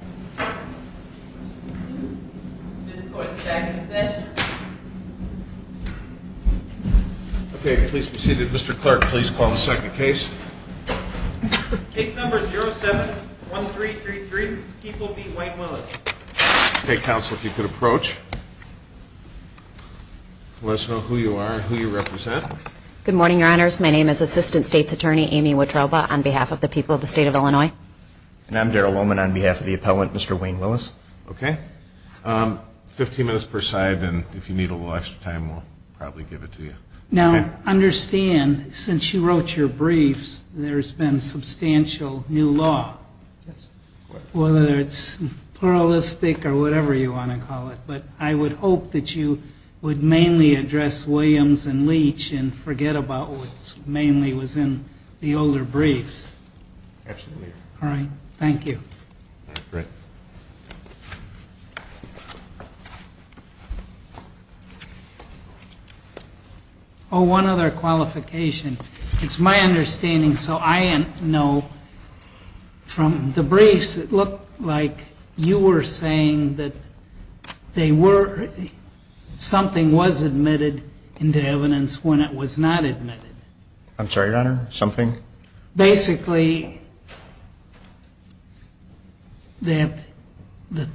Okay, please be seated. Mr. Clark, please call the second case. Case number 07-1333, People v. Wayne Willis. Okay, counsel, if you could approach. Let us know who you are and who you represent. Good morning, your honors. My name is Assistant States Attorney Amy Wotroba on behalf of the people of the state of Illinois. And I'm Darrell Lohman on behalf of the appellant, Mr. Wayne Willis. Okay, 15 minutes per side and if you need a little extra time, we'll probably give it to you. Now, understand, since you wrote your briefs, there's been substantial new law, whether it's pluralistic or whatever you want to call it. But I would hope that you would mainly address Williams and Leach and forget about what mainly was in the older briefs. Absolutely. All right. Thank you. Great. Oh, one other qualification. It's my understanding, so I know from the briefs, it looked like you were saying that they were, something was admitted into evidence when it was not admitted. I'm sorry, your honor? Something? Basically, that the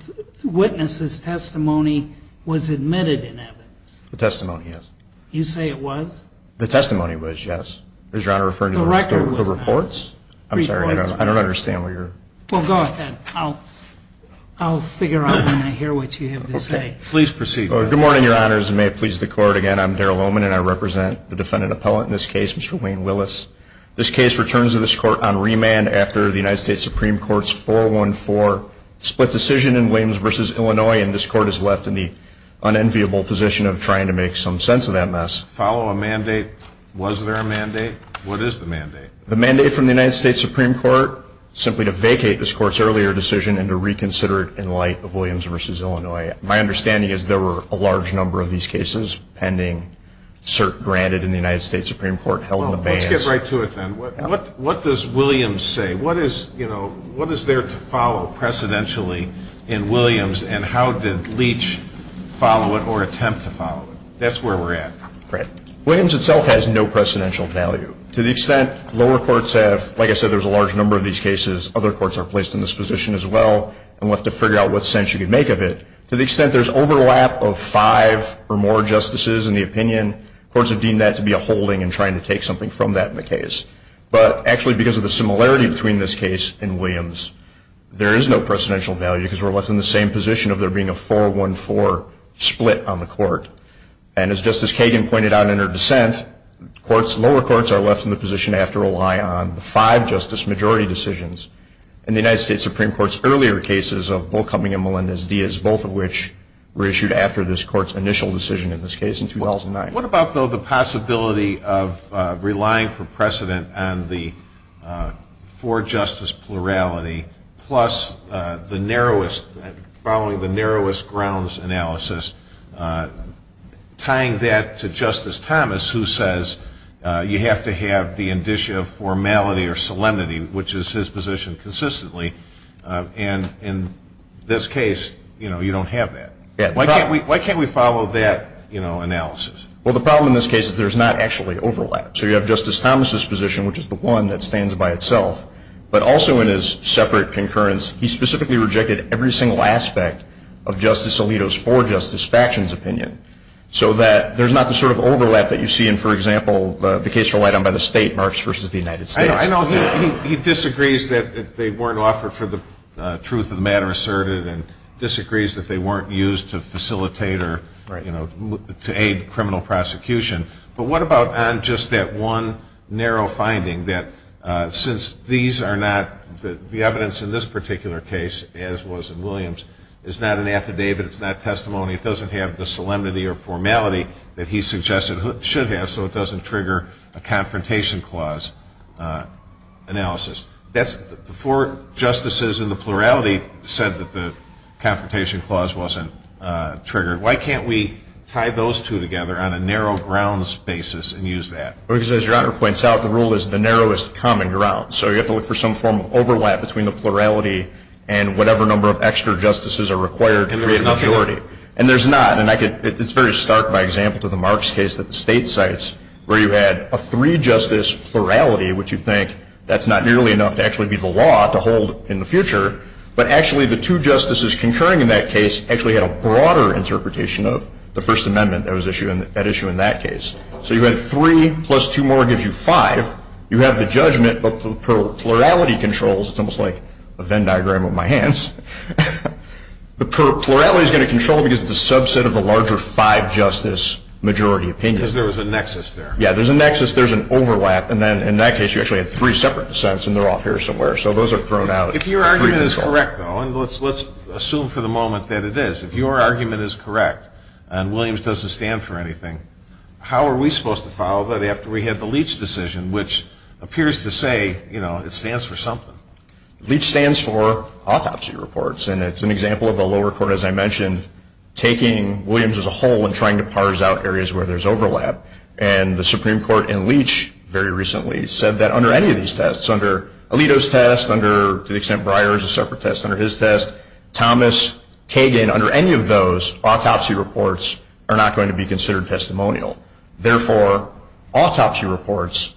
witness's testimony was admitted in evidence. The testimony, yes. You say it was? The testimony was, yes. Is your honor referring to the reports? The record was not. I'm sorry, I don't understand what you're... Well, go ahead. I'll figure out when I hear what you have to say. Okay. Please proceed. Good morning, your honors. And may it please the court, again, I'm Darrell Lohman and I represent the defendant appellant in this case, Mr. Wayne Willis. This case returns to this court on remand after the United States Supreme Court's 414 split decision in Williams v. Illinois, and this court is left in the unenviable position of trying to make some sense of that mess. Follow a mandate. Was there a mandate? What is the mandate? The mandate from the United States Supreme Court, simply to vacate this court's earlier decision and to reconsider it in light of Williams v. Illinois. My understanding is there were a large number of these cases pending cert granted in the United States Supreme Court held in the bands... Well, let's get right to it then. What does Williams say? What is there to follow precedentially in Williams and how did Leach follow it or attempt to follow it? That's where we're at. Williams itself has no precedential value. To the extent lower courts have, like I said, there's a large number of these cases, other courts are placed in this position as well, and we'll have to figure out what sense you can make of it. To the extent there's overlap of five or more justices in the opinion, courts have deemed that to be a holding and trying to take something from that in the case. But actually, because of the similarity between this case and Williams, there is no precedential value because we're left in the same position of there being a 4-1-4 split on the court. And as Justice Kagan pointed out in her dissent, lower courts are left in the position to have to rely on the five justice majority decisions. In the United States Supreme Court's earlier cases of Bull Cumming and Melendez-Diaz, both of which were issued after this court's initial decision in this case in 2009. What about, though, the possibility of relying for precedent on the four-justice plurality plus the narrowest, following the narrowest grounds analysis, tying that to Justice Thomas, who says you have to have the indicia of formality or solemnity, which is his position consistently. And in this case, you know, you don't have that. Why can't we follow that, you know, analysis? Well, the problem in this case is there's not actually overlap. So you have Justice Thomas's position, which is the one that stands by itself. But also in his separate concurrence, he specifically rejected every single aspect of Justice Alito's four-justice factions' opinion so that there's not the sort of overlap that you see in, for example, the case relied on by the state, Marx v. The United States. I know. He disagrees that they weren't offered for the truth of the matter asserted and disagrees that they weren't used to facilitate or, you know, to aid criminal prosecution. But what about on just that one narrow finding that since these are not, the evidence in this particular case, as was in Williams, is not an affidavit, it's not testimony, it doesn't have the solemnity or formality that he suggested it should have, so it doesn't trigger a confrontation clause analysis. The four justices in the plurality said that the confrontation clause wasn't triggered. Why can't we tie those two together on a narrow grounds basis and use that? Well, because as Your Honor points out, the rule is the narrowest common ground. So you have to look for some form of overlap between the plurality and whatever number of extra justices are required to create a majority. And there's nothing? And there's not. And I could, it's very stark by example to the Marx case that the state cites where you had a three-justice plurality, which you think that's not nearly enough to actually be the law to hold in the future. But actually the two justices concurring in that case actually had a broader interpretation of the First Amendment that was at issue in that case. So you had three plus two more gives you five. You have the judgment, but the plurality controls, it's almost like a Venn diagram of my hands, the plurality is going to control because it's a subset of the larger five-justice majority opinion. Because there was a nexus there. Yeah, there's a nexus, there's an overlap, and then in that case you actually had three separate dissents and they're off here somewhere. So those are thrown out. If your argument is correct though, and let's assume for the moment that it is, if your argument is correct and Williams doesn't stand for anything, how are we supposed to follow that after we have the Leach decision, which appears to say it stands for something? Leach stands for autopsy reports, and it's an example of the lower court, as I mentioned, taking Williams as a whole and trying to parse out areas where there's overlap. Thomas Kagan, under any of those, autopsy reports are not going to be considered testimonial. Therefore, autopsy reports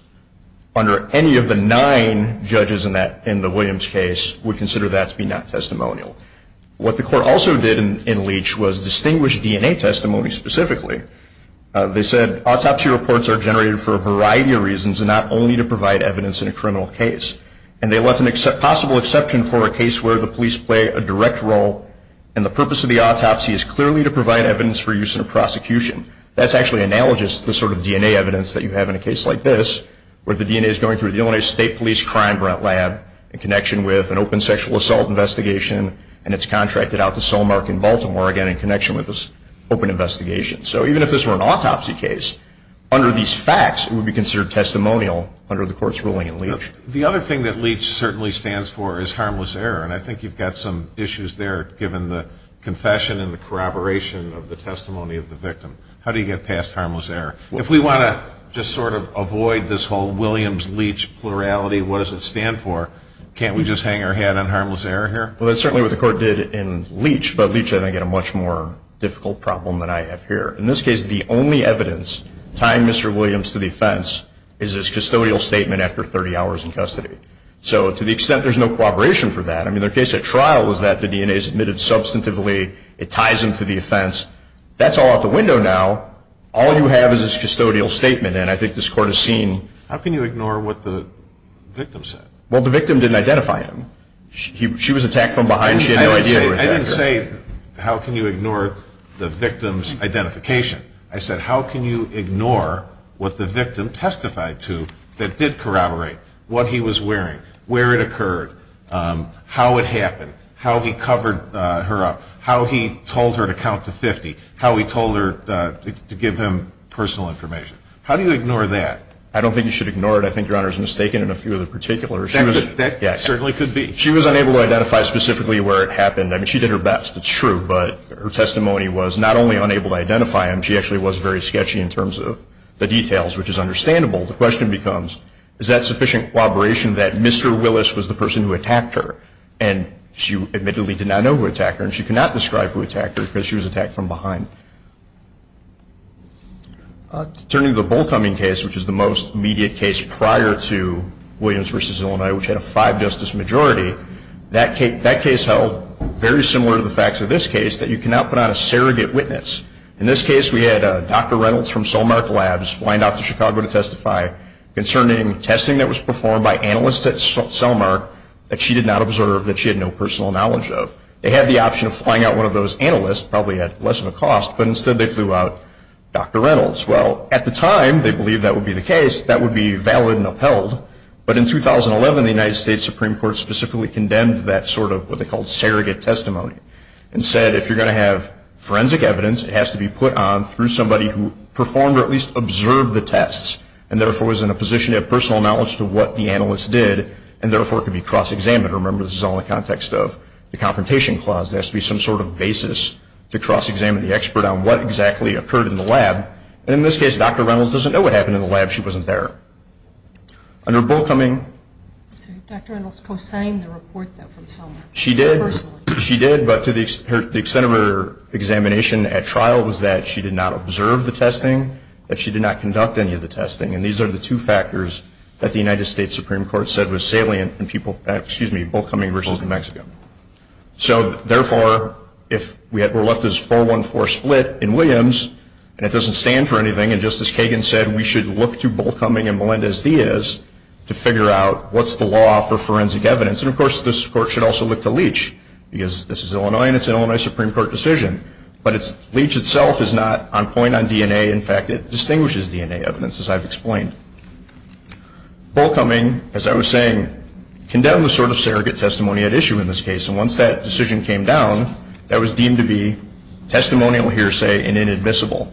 under any of the nine judges in the Williams case would consider that to be not testimonial. What the court also did in Leach was distinguish DNA testimony specifically. They said autopsy reports are generated for a variety of reasons and not only to provide evidence in a criminal case. And they left a possible exception for a case where the police play a direct role and the purpose of the autopsy is clearly to provide evidence for use in a prosecution. That's actually analogous to the sort of DNA evidence that you have in a case like this, where the DNA is going through the Illinois State Police Crime Lab in connection with an open sexual assault investigation, and it's contracted out to Solmark in Baltimore, again, in connection with this open investigation. So even if this were an autopsy case, under these facts, it would be considered testimonial under the court's ruling in Leach. The other thing that Leach certainly stands for is harmless error. And I think you've got some issues there, given the confession and the corroboration of the testimony of the victim. How do you get past harmless error? If we want to just sort of avoid this whole Williams-Leach plurality, what does it stand for? Can't we just hang our hat on harmless error here? Well, that's certainly what the court did in Leach, but Leach had, again, a much more difficult problem than I have here. In this case, the only evidence tying Mr. Williams to the offense is his own testimony in custody. So to the extent there's no corroboration for that, I mean, the case at trial was that the DNA is admitted substantively. It ties into the offense. That's all out the window now. All you have is this custodial statement, and I think this court has seen. How can you ignore what the victim said? Well, the victim didn't identify him. She was attacked from behind. She had no idea he was an attacker. I didn't say, how can you ignore the victim's identification? I said, how can you ignore what the victim testified to that did corroborate? What he was wearing, where it occurred, how it happened, how he covered her up, how he told her to count to 50, how he told her to give him personal information. How do you ignore that? I don't think you should ignore it. I think Your Honor is mistaken in a few of the particulars. That certainly could be. She was unable to identify specifically where it happened. I mean, she did her best. It's true. But her testimony was not only unable to identify him, she actually was very sketchy in terms of the details, which is understandable. The question becomes, is that sufficient corroboration that Mr. Willis was the person who attacked her, and she admittedly did not know who attacked her, and she could not describe who attacked her, because she was attacked from behind. Turning to the Bullcoming case, which is the most immediate case prior to Williams v. Illinois, which had a five-justice majority, that case held very similar to the facts of this case, that you cannot put on a surrogate witness. In this case, we had Dr. Reynolds from Solmark Labs flying out to Chicago to testify concerning testing that was performed by analysts at Solmark that she did not observe, that she had no personal knowledge of. They had the option of flying out one of those analysts, probably at less of a cost, but instead they flew out Dr. Reynolds. Well, at the time, they believed that would be the case. That would be valid and upheld. But in 2011, the United States Supreme Court specifically condemned that sort of what they called surrogate testimony, and said if you're going to have forensic evidence, it has to be put on through somebody who performed, or at least observed the tests, and therefore was in a position to have personal knowledge to what the analysts did, and therefore could be cross-examined. Remember, this is all in the context of the Confrontation Clause. There has to be some sort of basis to cross-examine the expert on what exactly occurred in the lab. In this case, Dr. Reynolds doesn't know what happened in the lab. She wasn't there. Under Bullcoming... Dr. Reynolds co-signed the report from Solmark. She did. But to the extent of her examination at trial, was that she did not observe the testing, that she did not conduct any of the testing. And these are the two factors that the United States Supreme Court said was salient in Bullcoming v. Mexico. So therefore, if we're left as 4-1-4 split in Williams, and it doesn't stand for anything, and Justice Kagan said we should look to Bullcoming and Melendez-Diaz to figure out what's the law for forensic evidence, and of course this Court should also look to Leach, because this is Illinois and it's an Illinois Supreme Court decision. But Leach itself is not on point on DNA. In fact, it distinguishes DNA evidence, as I've explained. Bullcoming, as I was saying, condemned the sort of surrogate testimony at issue in this case. And once that decision came down, that was deemed to be testimonial hearsay and inadmissible.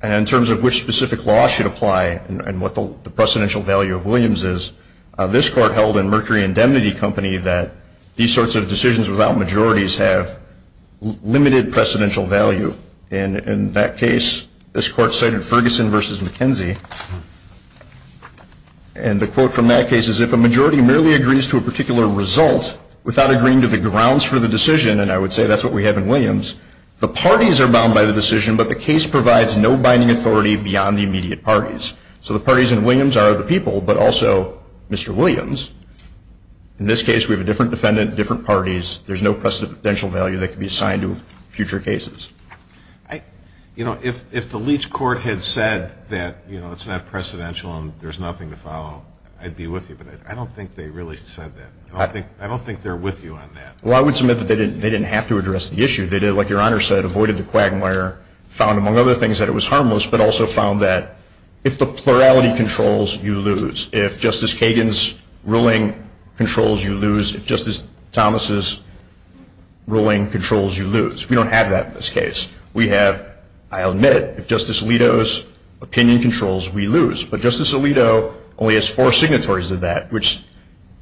And in terms of which specific law should apply, and what the precedential value of Williams is, this Court held in Mercury Indemnity Company that these sorts of decisions without majorities have limited precedential value. And in that case, this Court cited Ferguson v. McKenzie, and the quote from that case is, if a majority merely agrees to a particular result without agreeing to the grounds for the decision, and I would say that's what we have in Williams, the parties are bound by the decision, but the case provides no binding authority beyond the immediate parties. So the parties in Williams are the people, but also Mr. Williams. In this case, we have a different defendant, different parties. There's no precedential value that can be assigned to future cases. If the Leach Court had said that it's not precedential and there's nothing to follow, I'd be with you. But I don't think they really said that. I don't think they're with you on that. Well, I would submit that they didn't have to address the issue. They did, like Your Honor said, avoided the quagmire, found, among other things, that it was harmless, but also found that if the plurality controls, you lose. If Justice Kagan's ruling controls, you lose. If Justice Thomas's ruling controls, you lose. We don't have that in this case. We have, I'll admit it, if Justice Alito's opinion controls, we lose. But Justice Alito only has four signatories to that, which,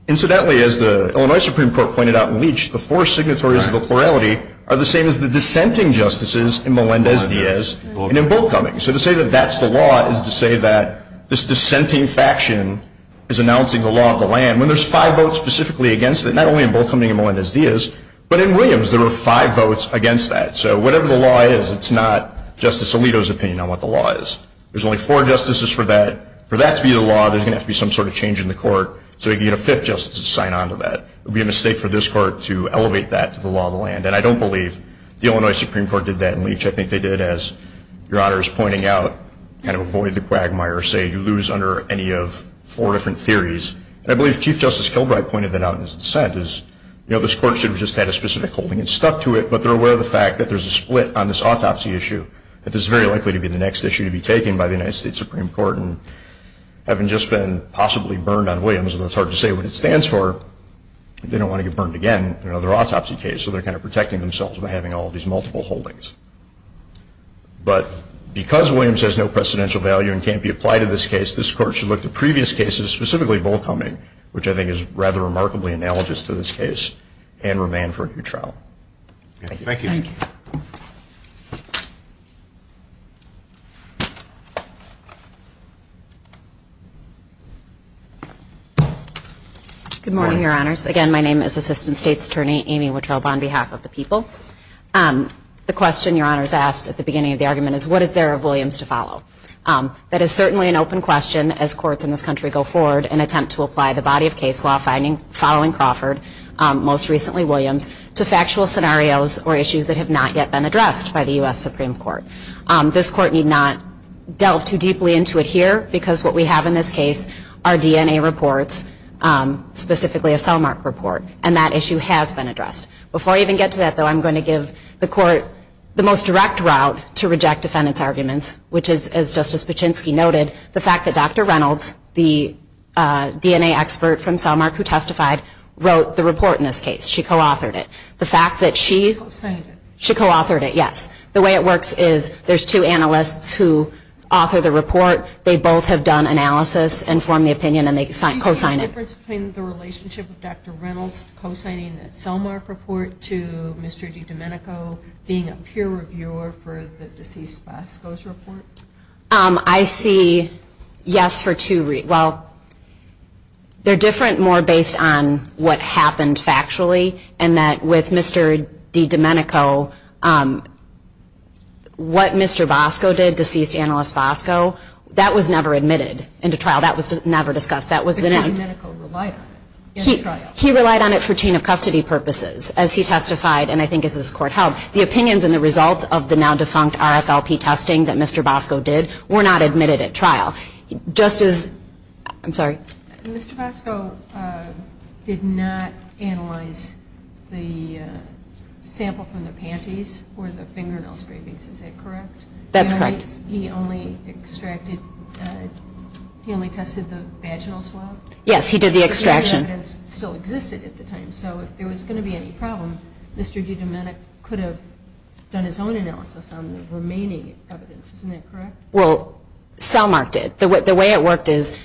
incidentally, as the Illinois Supreme Court pointed out in Leach, the four signatories to the plurality are the same as the dissenting justices in Melendez-Diaz and in Bolkoming. So to say that that's the law is to say that this dissenting faction is announcing the law of the land, when there's five votes specifically against it, not only in Bolkoming and Melendez-Diaz, but in Williams, there were five votes against that. So whatever the law is, it's not Justice Alito's opinion on what the law is. There's only four justices for that. For that to be the law, there's going to have to be some sort of change in the court so you get a fifth justice to sign on to that. It would be a mistake for this court to elevate that to the law of the land. And I don't believe the Illinois Supreme Court did that in Leach. I think they did, as Your Honor is pointing out, kind of avoid the quagmire, say you lose under any of four different theories. And I believe Chief Justice Kilbride pointed that out in his dissent, is this court should have just had a specific holding and stuck to it, but they're aware of the fact that there's a split on this autopsy issue, that this is very likely to be the next issue to be taken by the United States Supreme Court, and having just been possibly burned on Williams, although it's hard to say what it stands for, they don't want to get burned again in another autopsy case, so they're kind of protecting themselves by having all these multiple holdings. But because Williams has no precedential value and can't be applied to this case, this court should look to previous cases, specifically Bolkoming, which I think is rather remarkably analogous to this case, and remain for a new trial. Thank you. Good morning, Your Honors. Again, my name is Assistant State's Attorney Amy Wittrobe on behalf of the people. The question Your Honors asked at the beginning of the argument is, what is there of Williams to follow? That is certainly an open question as courts in this country go forward in an attempt to apply the body of case law following Crawford, most recently Williams, to factual scenarios or issues that have not yet been addressed by the U.S. Supreme Court. This court need not delve too deeply into it here, because what we have in this case are DNA reports, specifically a cell mark report, and that issue has been addressed. Before I even get to that, though, I'm going to give the court the most direct route to reject defendants' arguments, which is, as Justice Paczynski noted, the fact that Dr. Reynolds, the DNA expert from Cellmark who testified, wrote the report in this case. She co-authored it. The fact that she co-authored it, yes. The way it works is there's two analysts who author the report. They both have done analysis and formed the opinion and they co-signed it. Do you see a difference between the relationship of Dr. Reynolds co-signing the Cellmark report to Mr. DiDomenico being a peer reviewer for the deceased Bosco's report? I see yes for two reasons. Well, they're different more based on what happened factually and that with Mr. DiDomenico, what Mr. Bosco did, deceased analyst Bosco, that was never admitted into trial. That was never discussed. DiDomenico relied on it. He relied on it for chain of custody purposes as he testified and I think as this court held. The opinions and the results of the now defunct RFLP testing that Mr. Bosco did were not admitted at trial. Mr. Bosco did not analyze the sample from the panties or the fingernail scrapings. Is that correct? That's correct. He only tested the vaginal swab? Yes, he did the extraction. The evidence still existed at the time, so if there was going to be any problem, Mr. DiDomenico could have done his own analysis on the remaining evidence. Isn't that correct? Well, Cellmark did. The way it worked is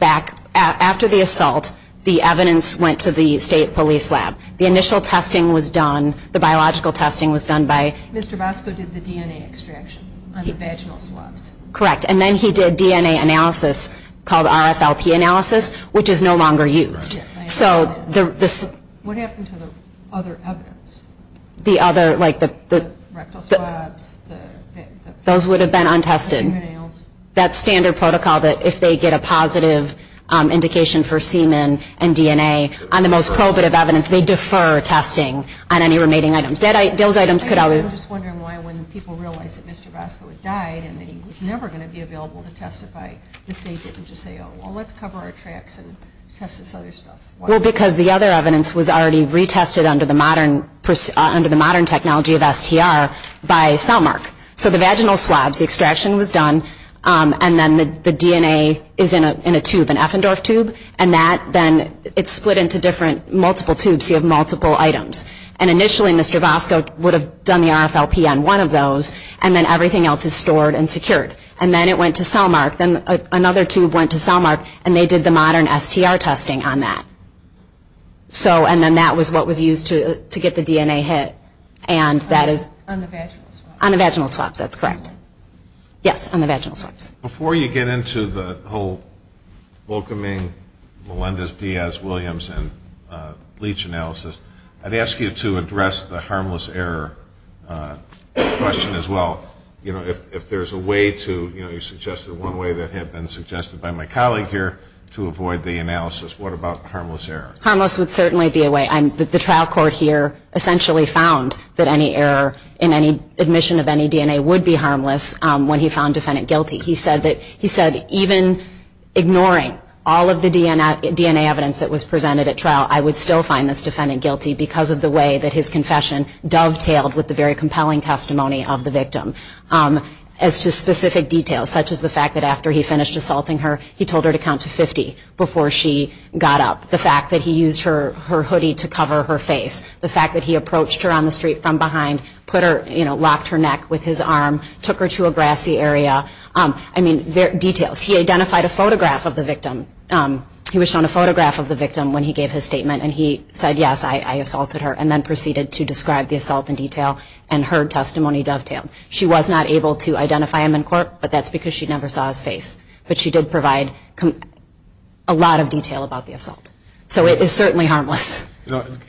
after the assault, the evidence went to the state police lab. The initial testing was done, the biological testing was done by... Mr. Bosco did the DNA extraction on the vaginal swabs? Correct, and then he did DNA analysis called RFLP analysis, which is no longer used. What happened to the other evidence? The other, like the... The rectal swabs, the fingernails? Those would have been untested. That standard protocol, that if they get a positive indication for semen and DNA on the most probative evidence, they defer testing on any remaining items. I'm just wondering why when people realize that Mr. Bosco had died and he was never going to be available to testify, the state didn't just say, oh, well, let's cover our tracks and test this other stuff. Because the other evidence was already retested under the modern technology of STR by Cellmark. So the vaginal swabs, the extraction was done, and then the DNA is in a tube, an Effendorf tube, and then it's split into multiple tubes, so you have multiple items. Initially, Mr. Bosco would have done the RFLP on one of those, and then everything else is stored and secured. And then it went to Cellmark, and they did the modern STR testing on that. And then that was what was used to get the DNA hit. On the vaginal swabs? On the vaginal swabs, that's correct. Before you get into the whole welcoming Melendez-Diaz-Williams and leach analysis, I'd ask you to address the harmless error question as well. You know, if there's a way to, you suggested one way that had been suggested by my colleague here to avoid the analysis, what about harmless error? Harmless would certainly be a way. The trial court here essentially found that any error in any admission of any DNA would be harmless when he found defendant guilty. He said even ignoring all of the DNA evidence that was presented at trial, I would still find this defendant guilty because of the way that his confession dovetailed with the very compelling testimony of the victim. As to specific details, such as the fact that after he finished assaulting her, he told her to count to 50 before she got up. The fact that he used her hoodie to cover her face. The fact that he approached her on the street from behind, locked her neck with his arm, took her to a grassy area. I mean, details. He identified a photograph of the victim. He was shown a photograph of the victim when he gave his statement and he said, yes, I assaulted her. And then proceeded to describe the assault in detail and her testimony dovetailed. She was not able to identify him in court, but that's because she never saw his face. But she did provide a lot of detail about the assault. So it is certainly harmless.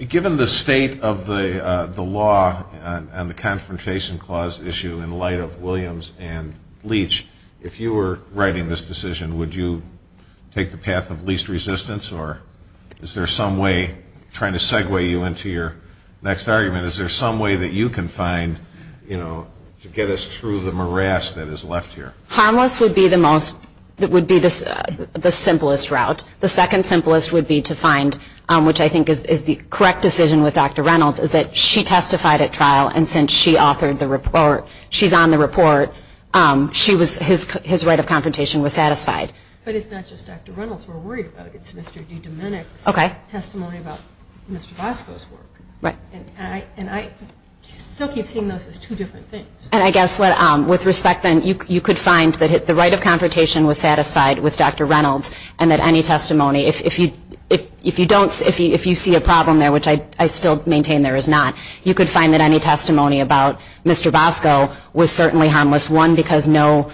Given the state of the law and the Confrontation Clause issue in light of Williams and Leach, if you were writing this decision, would you take the path of least resistance or is there some way, trying to segue you into your next argument, is there some way that you can find to get us through the morass that is left here? Harmless would be the simplest route. The second simplest would be to find, which I think is the correct decision with Dr. Reynolds, is that she testified at trial and since she authored the report, she's on the report, his right of confrontation was satisfied. But it's not just Dr. Reynolds we're worried about. It's Mr. D. Domenick's testimony about Mr. Bosco's work. And I still keep seeing those as two different things. And I guess with respect then, you could find that the right of confrontation was satisfied with Dr. Reynolds and that any testimony, if you see a problem there, which I still maintain there is not, you could find that any testimony about Mr. Bosco was certainly harmless. One, because no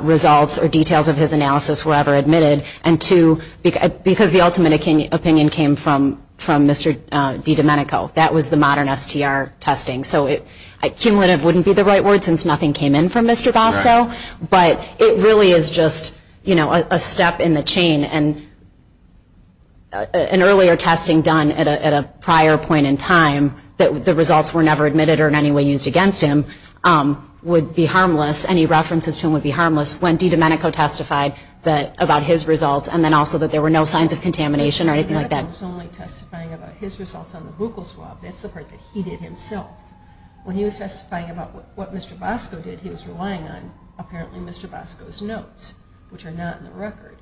results or details of his analysis were ever admitted and two, because the ultimate opinion came from Mr. D. Domenico. That was the modern STR testing. So cumulative wouldn't be the right word since nothing came in from Mr. Bosco. But it really is just a step in the chain and an earlier testing done at a prior point in time that the results were never admitted or in any way used against him would be harmless. Any references to him would be harmless when D. Domenico testified about his results and then also that there were no signs of contamination or anything like that. He was only testifying about his results on the buccal swab. That's the part that he did himself. When he was testifying about what Mr. Bosco did, he was relying on apparently Mr. Bosco's notes which are not in the record.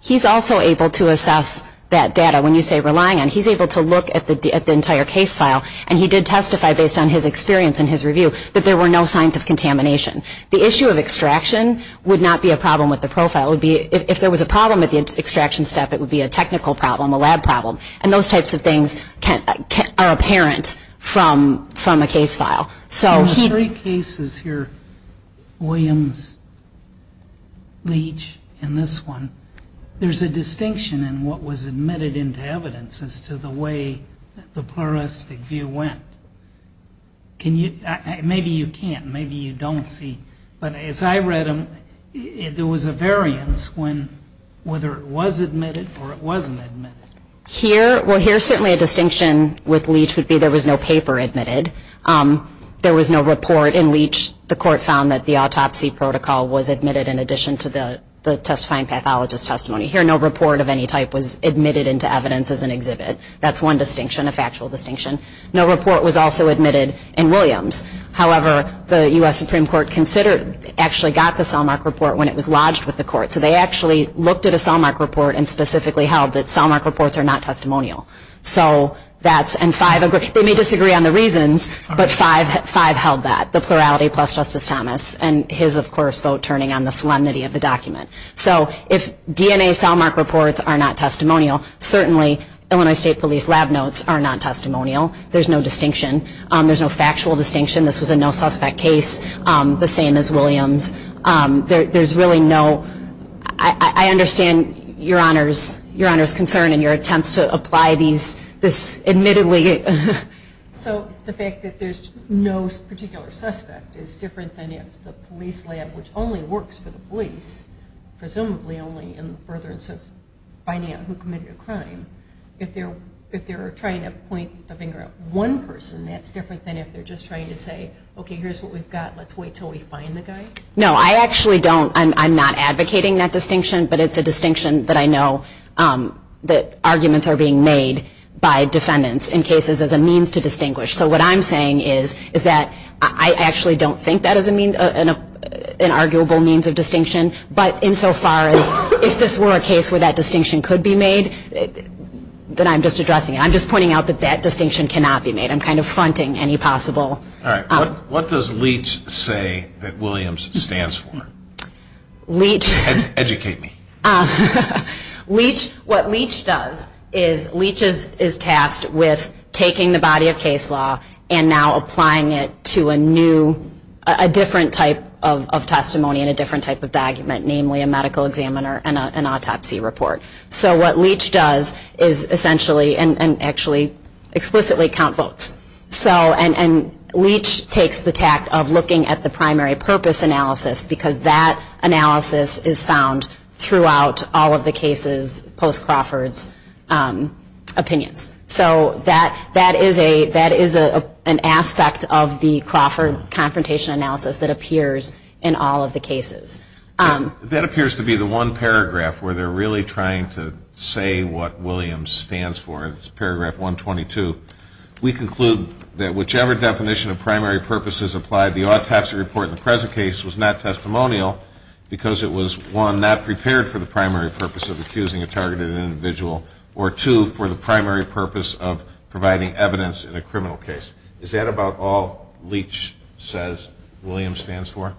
He's also able to assess that data. When you say relying on, he's able to look at the entire case file and he did testify based on his experience and his review that there were no signs of contamination. The issue of extraction would not be a problem with the profile. If there was a problem with the extraction step, it would be a technical problem, a lab problem. Those types of things are apparent from a case file. In the three cases here, Williams, Leach, and this one, there's a distinction in what was admitted into evidence as to the way the pluralistic view went. Maybe you can't. Maybe you don't see. But as I read them, there was a variance whether it was admitted or not. Here, certainly a distinction with Leach would be there was no paper admitted. There was no report in Leach. The court found that the autopsy protocol was admitted in addition to the testifying pathologist testimony. Here, no report of any type was admitted into evidence as an exhibit. That's one distinction, a factual distinction. No report was also admitted in Williams. However, the U.S. Supreme Court considered, actually got the Selmark report when it was lodged with the court. So they actually looked at a Selmark report and specifically held that Selmark reports are not testimonial. They may disagree on the reasons, but five held that, the plurality plus Justice Thomas and his, of course, vote turning on the solemnity of the document. So if DNA Selmark reports are not testimonial, certainly Illinois State Police lab notes are not testimonial. There's no distinction. There's no factual distinction. This was a no-suspect case, the same as Williams. There's really no, I understand your Honor's concern and your attempts to apply this admittedly. So the fact that there's no particular suspect is different than if the police lab, which only works for the police, presumably only in the furtherance of finding out who committed a crime, if they're trying to point the finger at one person, that's different than if they're just trying to say, okay, here's what we've got, let's wait until we find the guy? No, I actually don't, I'm not advocating that distinction, but it's a distinction that I know that arguments are being made by defendants in cases as a means to distinguish. So what I'm saying is that I actually don't think that is an arguable means of distinction, but insofar as if this were a case where that distinction could be made, then I'm just addressing it. I'm just pointing out that that distinction cannot be made. I'm kind of fronting any possible... All right, what does Leach say that Williams stands for? Educate me. What Leach does is Leach is tasked with taking the body of case law and now applying it to a new, a different type of testimony and a different type of document, namely a medical examiner and an autopsy report. So what Leach does is essentially and actually explicitly count votes. And Leach takes the tact of looking at the primary purpose analysis because that analysis is found throughout all of the cases post-Crawford's opinions. So that is an aspect of the Crawford confrontation analysis that appears in all of the cases. That appears to be the one paragraph where they're really trying to say what Williams stands for. It's paragraph 122. We conclude that whichever definition of primary purpose is applied, the autopsy report in the present case was not testimonial because it was, one, not prepared for the primary purpose of accusing a targeted individual or, two, for the primary purpose of providing evidence in a criminal case. Is that about all Leach says Williams stands for?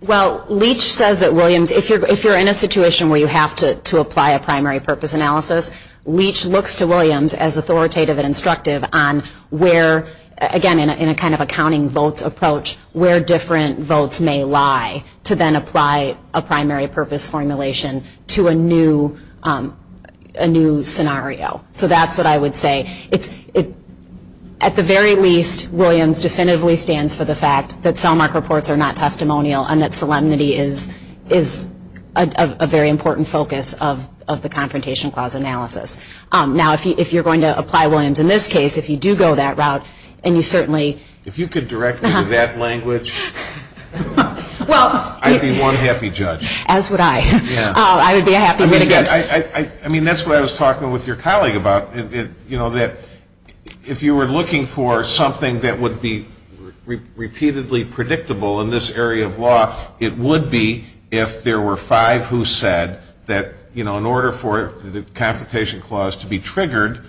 Well, Leach says that Williams, if you're in a situation where you have to apply a primary purpose analysis, Leach looks to Williams as authoritative and instructive on where, again in a kind of a counting votes approach, where different votes may lie to then apply a primary purpose formulation to a new scenario. So that's what I would say. At the very least, Williams definitively stands for the fact that cell mark reports are not testimonial and that solemnity is a very important focus of the confrontation clause analysis. Now, if you're going to apply Williams in this case, if you do go that route, and you certainly... If you could direct me to that language, I'd be one happy judge. As would I. I would be a happy litigant. I mean, that's what I was talking with your colleague about, that if you were looking for something that would be repeatedly predictable in this area of law, it would be if there were five who said that in order for the confrontation clause to be triggered,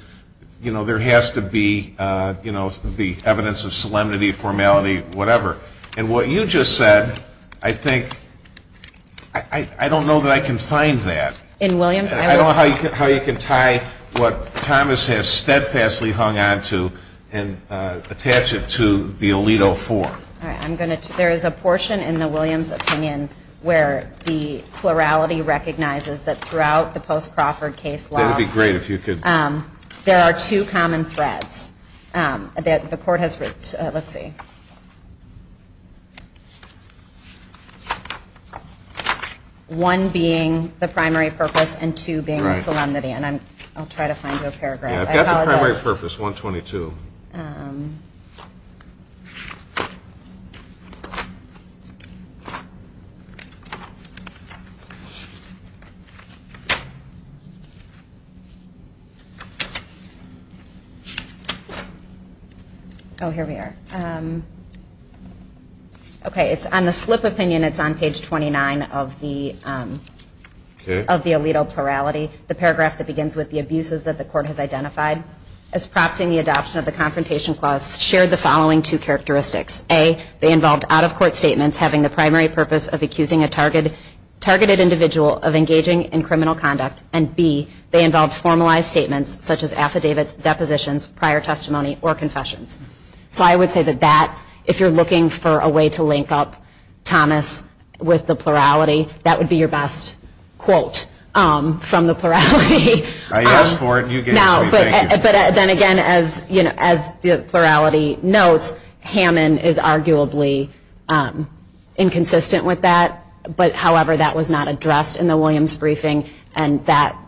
there has to be the evidence of solemnity, formality, whatever. And what you just said, I think... I don't know that I can find that. In Williams? I don't know how you can tie what Thomas has steadfastly hung on to and attach it to the Alito form. There is a portion in the Williams opinion where the plurality recognizes that throughout the post-Crawford case law... That would be great if you could... There are two common threads that the court has... Let's see. One being the primary purpose and two being the solemnity. I'll try to find your paragraph. I've got the primary purpose, 122. Oh, here we are. Okay, it's on the slip opinion. It's on page 29 of the Alito plurality. The paragraph that begins with the abuses that the court has identified as prompting the adoption of the confrontation clause shared the following two characteristics. A, they involved out-of-court statements having the primary purpose of accusing a targeted individual of engaging in criminal conduct, and B, they involved formalized statements such as affidavits, depositions, prior testimony, or confessions. So I would say that if you're looking for a way to link up Thomas with the plurality, that would be your best quote from the plurality. I asked for it and you gave it to me. But then again, as the plurality notes, Hammond is arguably inconsistent with that. However, that was not addressed in the Williams briefing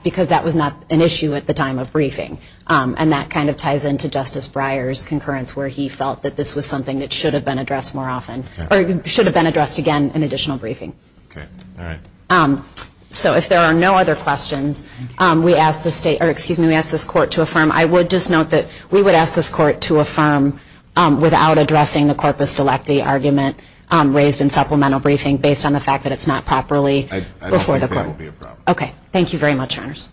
because that was not an issue at the time of briefing. And that kind of ties into Justice Breyer's concurrence where he felt that this was something that should have been addressed more often or should have been addressed again in additional briefing. So if there are no other questions, we ask this court to affirm. I would just note that we would ask this court to affirm without addressing the corpus delecti argument raised in supplemental briefing based on the fact that it's not properly before the court. I don't think that would be a problem. Okay. Thank you very much, Your Honors.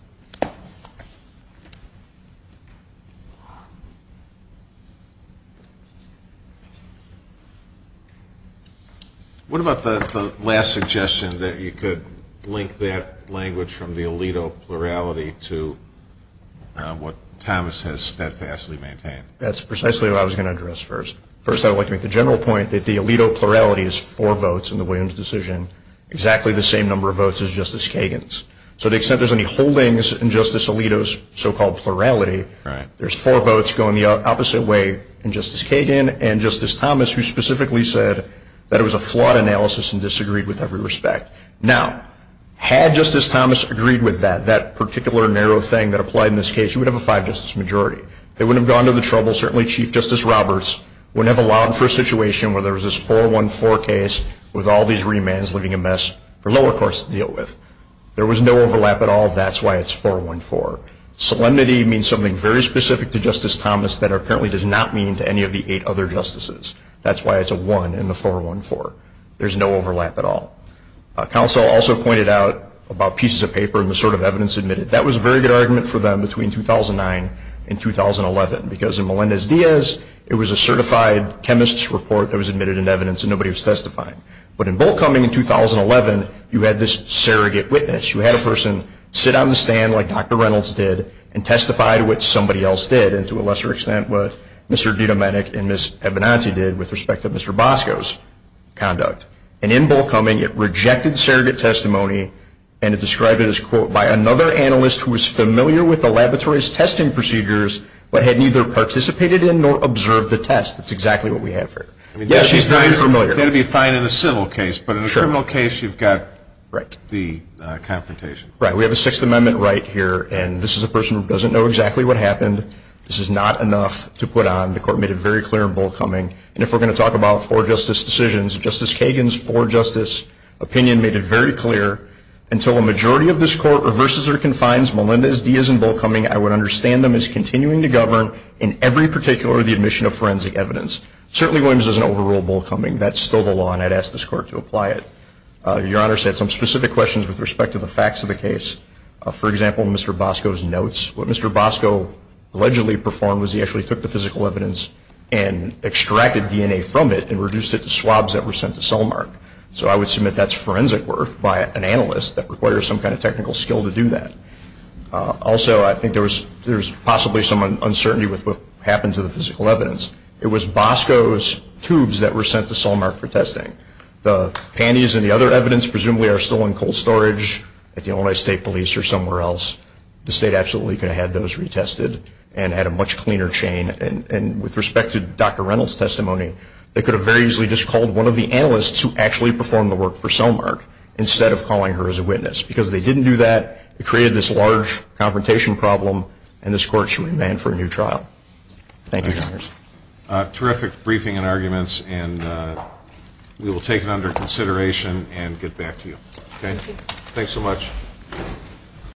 What about the last suggestion that you could link that language from the Alito plurality to what Thomas has steadfastly maintained? That's precisely what I was going to address first. First, I would like to make the general point that the Alito plurality is four votes in the Williams decision, exactly the same number of votes as Justice Kagan's. So to the extent there's any holdings in Justice Alito's so-called plurality, there's four votes going the opposite way in Justice Kagan and Justice Thomas, who specifically said that it was a flawed analysis and disagreed with every respect. Now, had Justice Thomas agreed with that, that particular narrow thing that applied in this case, you would have a five-justice majority. They would have gone to the trouble, certainly Chief Justice Roberts, would have allowed for a situation where there was this 4-1-4 case with all these remands leaving a mess for lower courts to deal with. There was no overlap at all. That's why it's 4-1-4. Solemnity means something very specific to Justice Thomas that apparently does not mean to any of the eight other justices. That's why it's a one in the 4-1-4. There's no overlap at all. Counsel also pointed out about pieces of paper and the sort of evidence admitted. That was a very good argument for them between 2009 and 2011 because in Melendez-Diaz, it was a certified chemist's report that was admitted in evidence and nobody was testifying. But in Bohlkoming in 2011, you had this surrogate witness. You had a person sit on the stand like Dr. Reynolds did and testify to what somebody else did, and to a lesser extent, what Mr. DiDomenic and Ms. Ebenazi did with respect to Mr. Bosco's conduct. And in Bohlkoming, it rejected surrogate testimony and it described it as, quote, by another analyst who was familiar with the laboratory's testing procedures but had neither participated in nor observed the test. That's exactly what we have here. Yes, she's very familiar. That would be fine in a civil case, but in a criminal case, you've got the confrontation. Right. We have a Sixth Amendment right here, and this is a person who doesn't know exactly what happened. This is not enough to put on. The court made it very clear in Bohlkoming. And if we're going to talk about for-justice decisions, Justice Kagan's for-justice opinion made it very clear, until a majority of this Court reverses or confines Melinda's, Dia's, and Bohlkoming, I would understand them as continuing to govern in every particular of the admission of forensic evidence. Certainly Williams doesn't overrule Bohlkoming. That's still the law, and I'd ask this Court to apply it. Your Honor said some specific questions with respect to the facts of the case. For example, Mr. Bosco's notes. What Mr. Bosco allegedly performed was he actually took the physical evidence and extracted DNA from it and reduced it to swabs that were sent to Solmark. So I would submit that's forensic work by an analyst that requires some kind of technical skill to do that. Also, I think there was possibly some uncertainty with what happened to the physical evidence. It was Bosco's tubes that were sent to Solmark for testing. The panties and the other evidence presumably are still in cold storage at the Illinois State Police or somewhere else. The State absolutely could have had those retested and had a much cleaner chain and with respect to Dr. Reynolds' testimony, they could have very easily just called one of the analysts who actually performed the work for Solmark instead of calling her as a witness because they didn't do that. It created this large confrontation problem, and this Court should remand for a new trial. Thank you, Your Honor. Terrific briefing and arguments, and we will take it under consideration and get back to you. Thanks so much.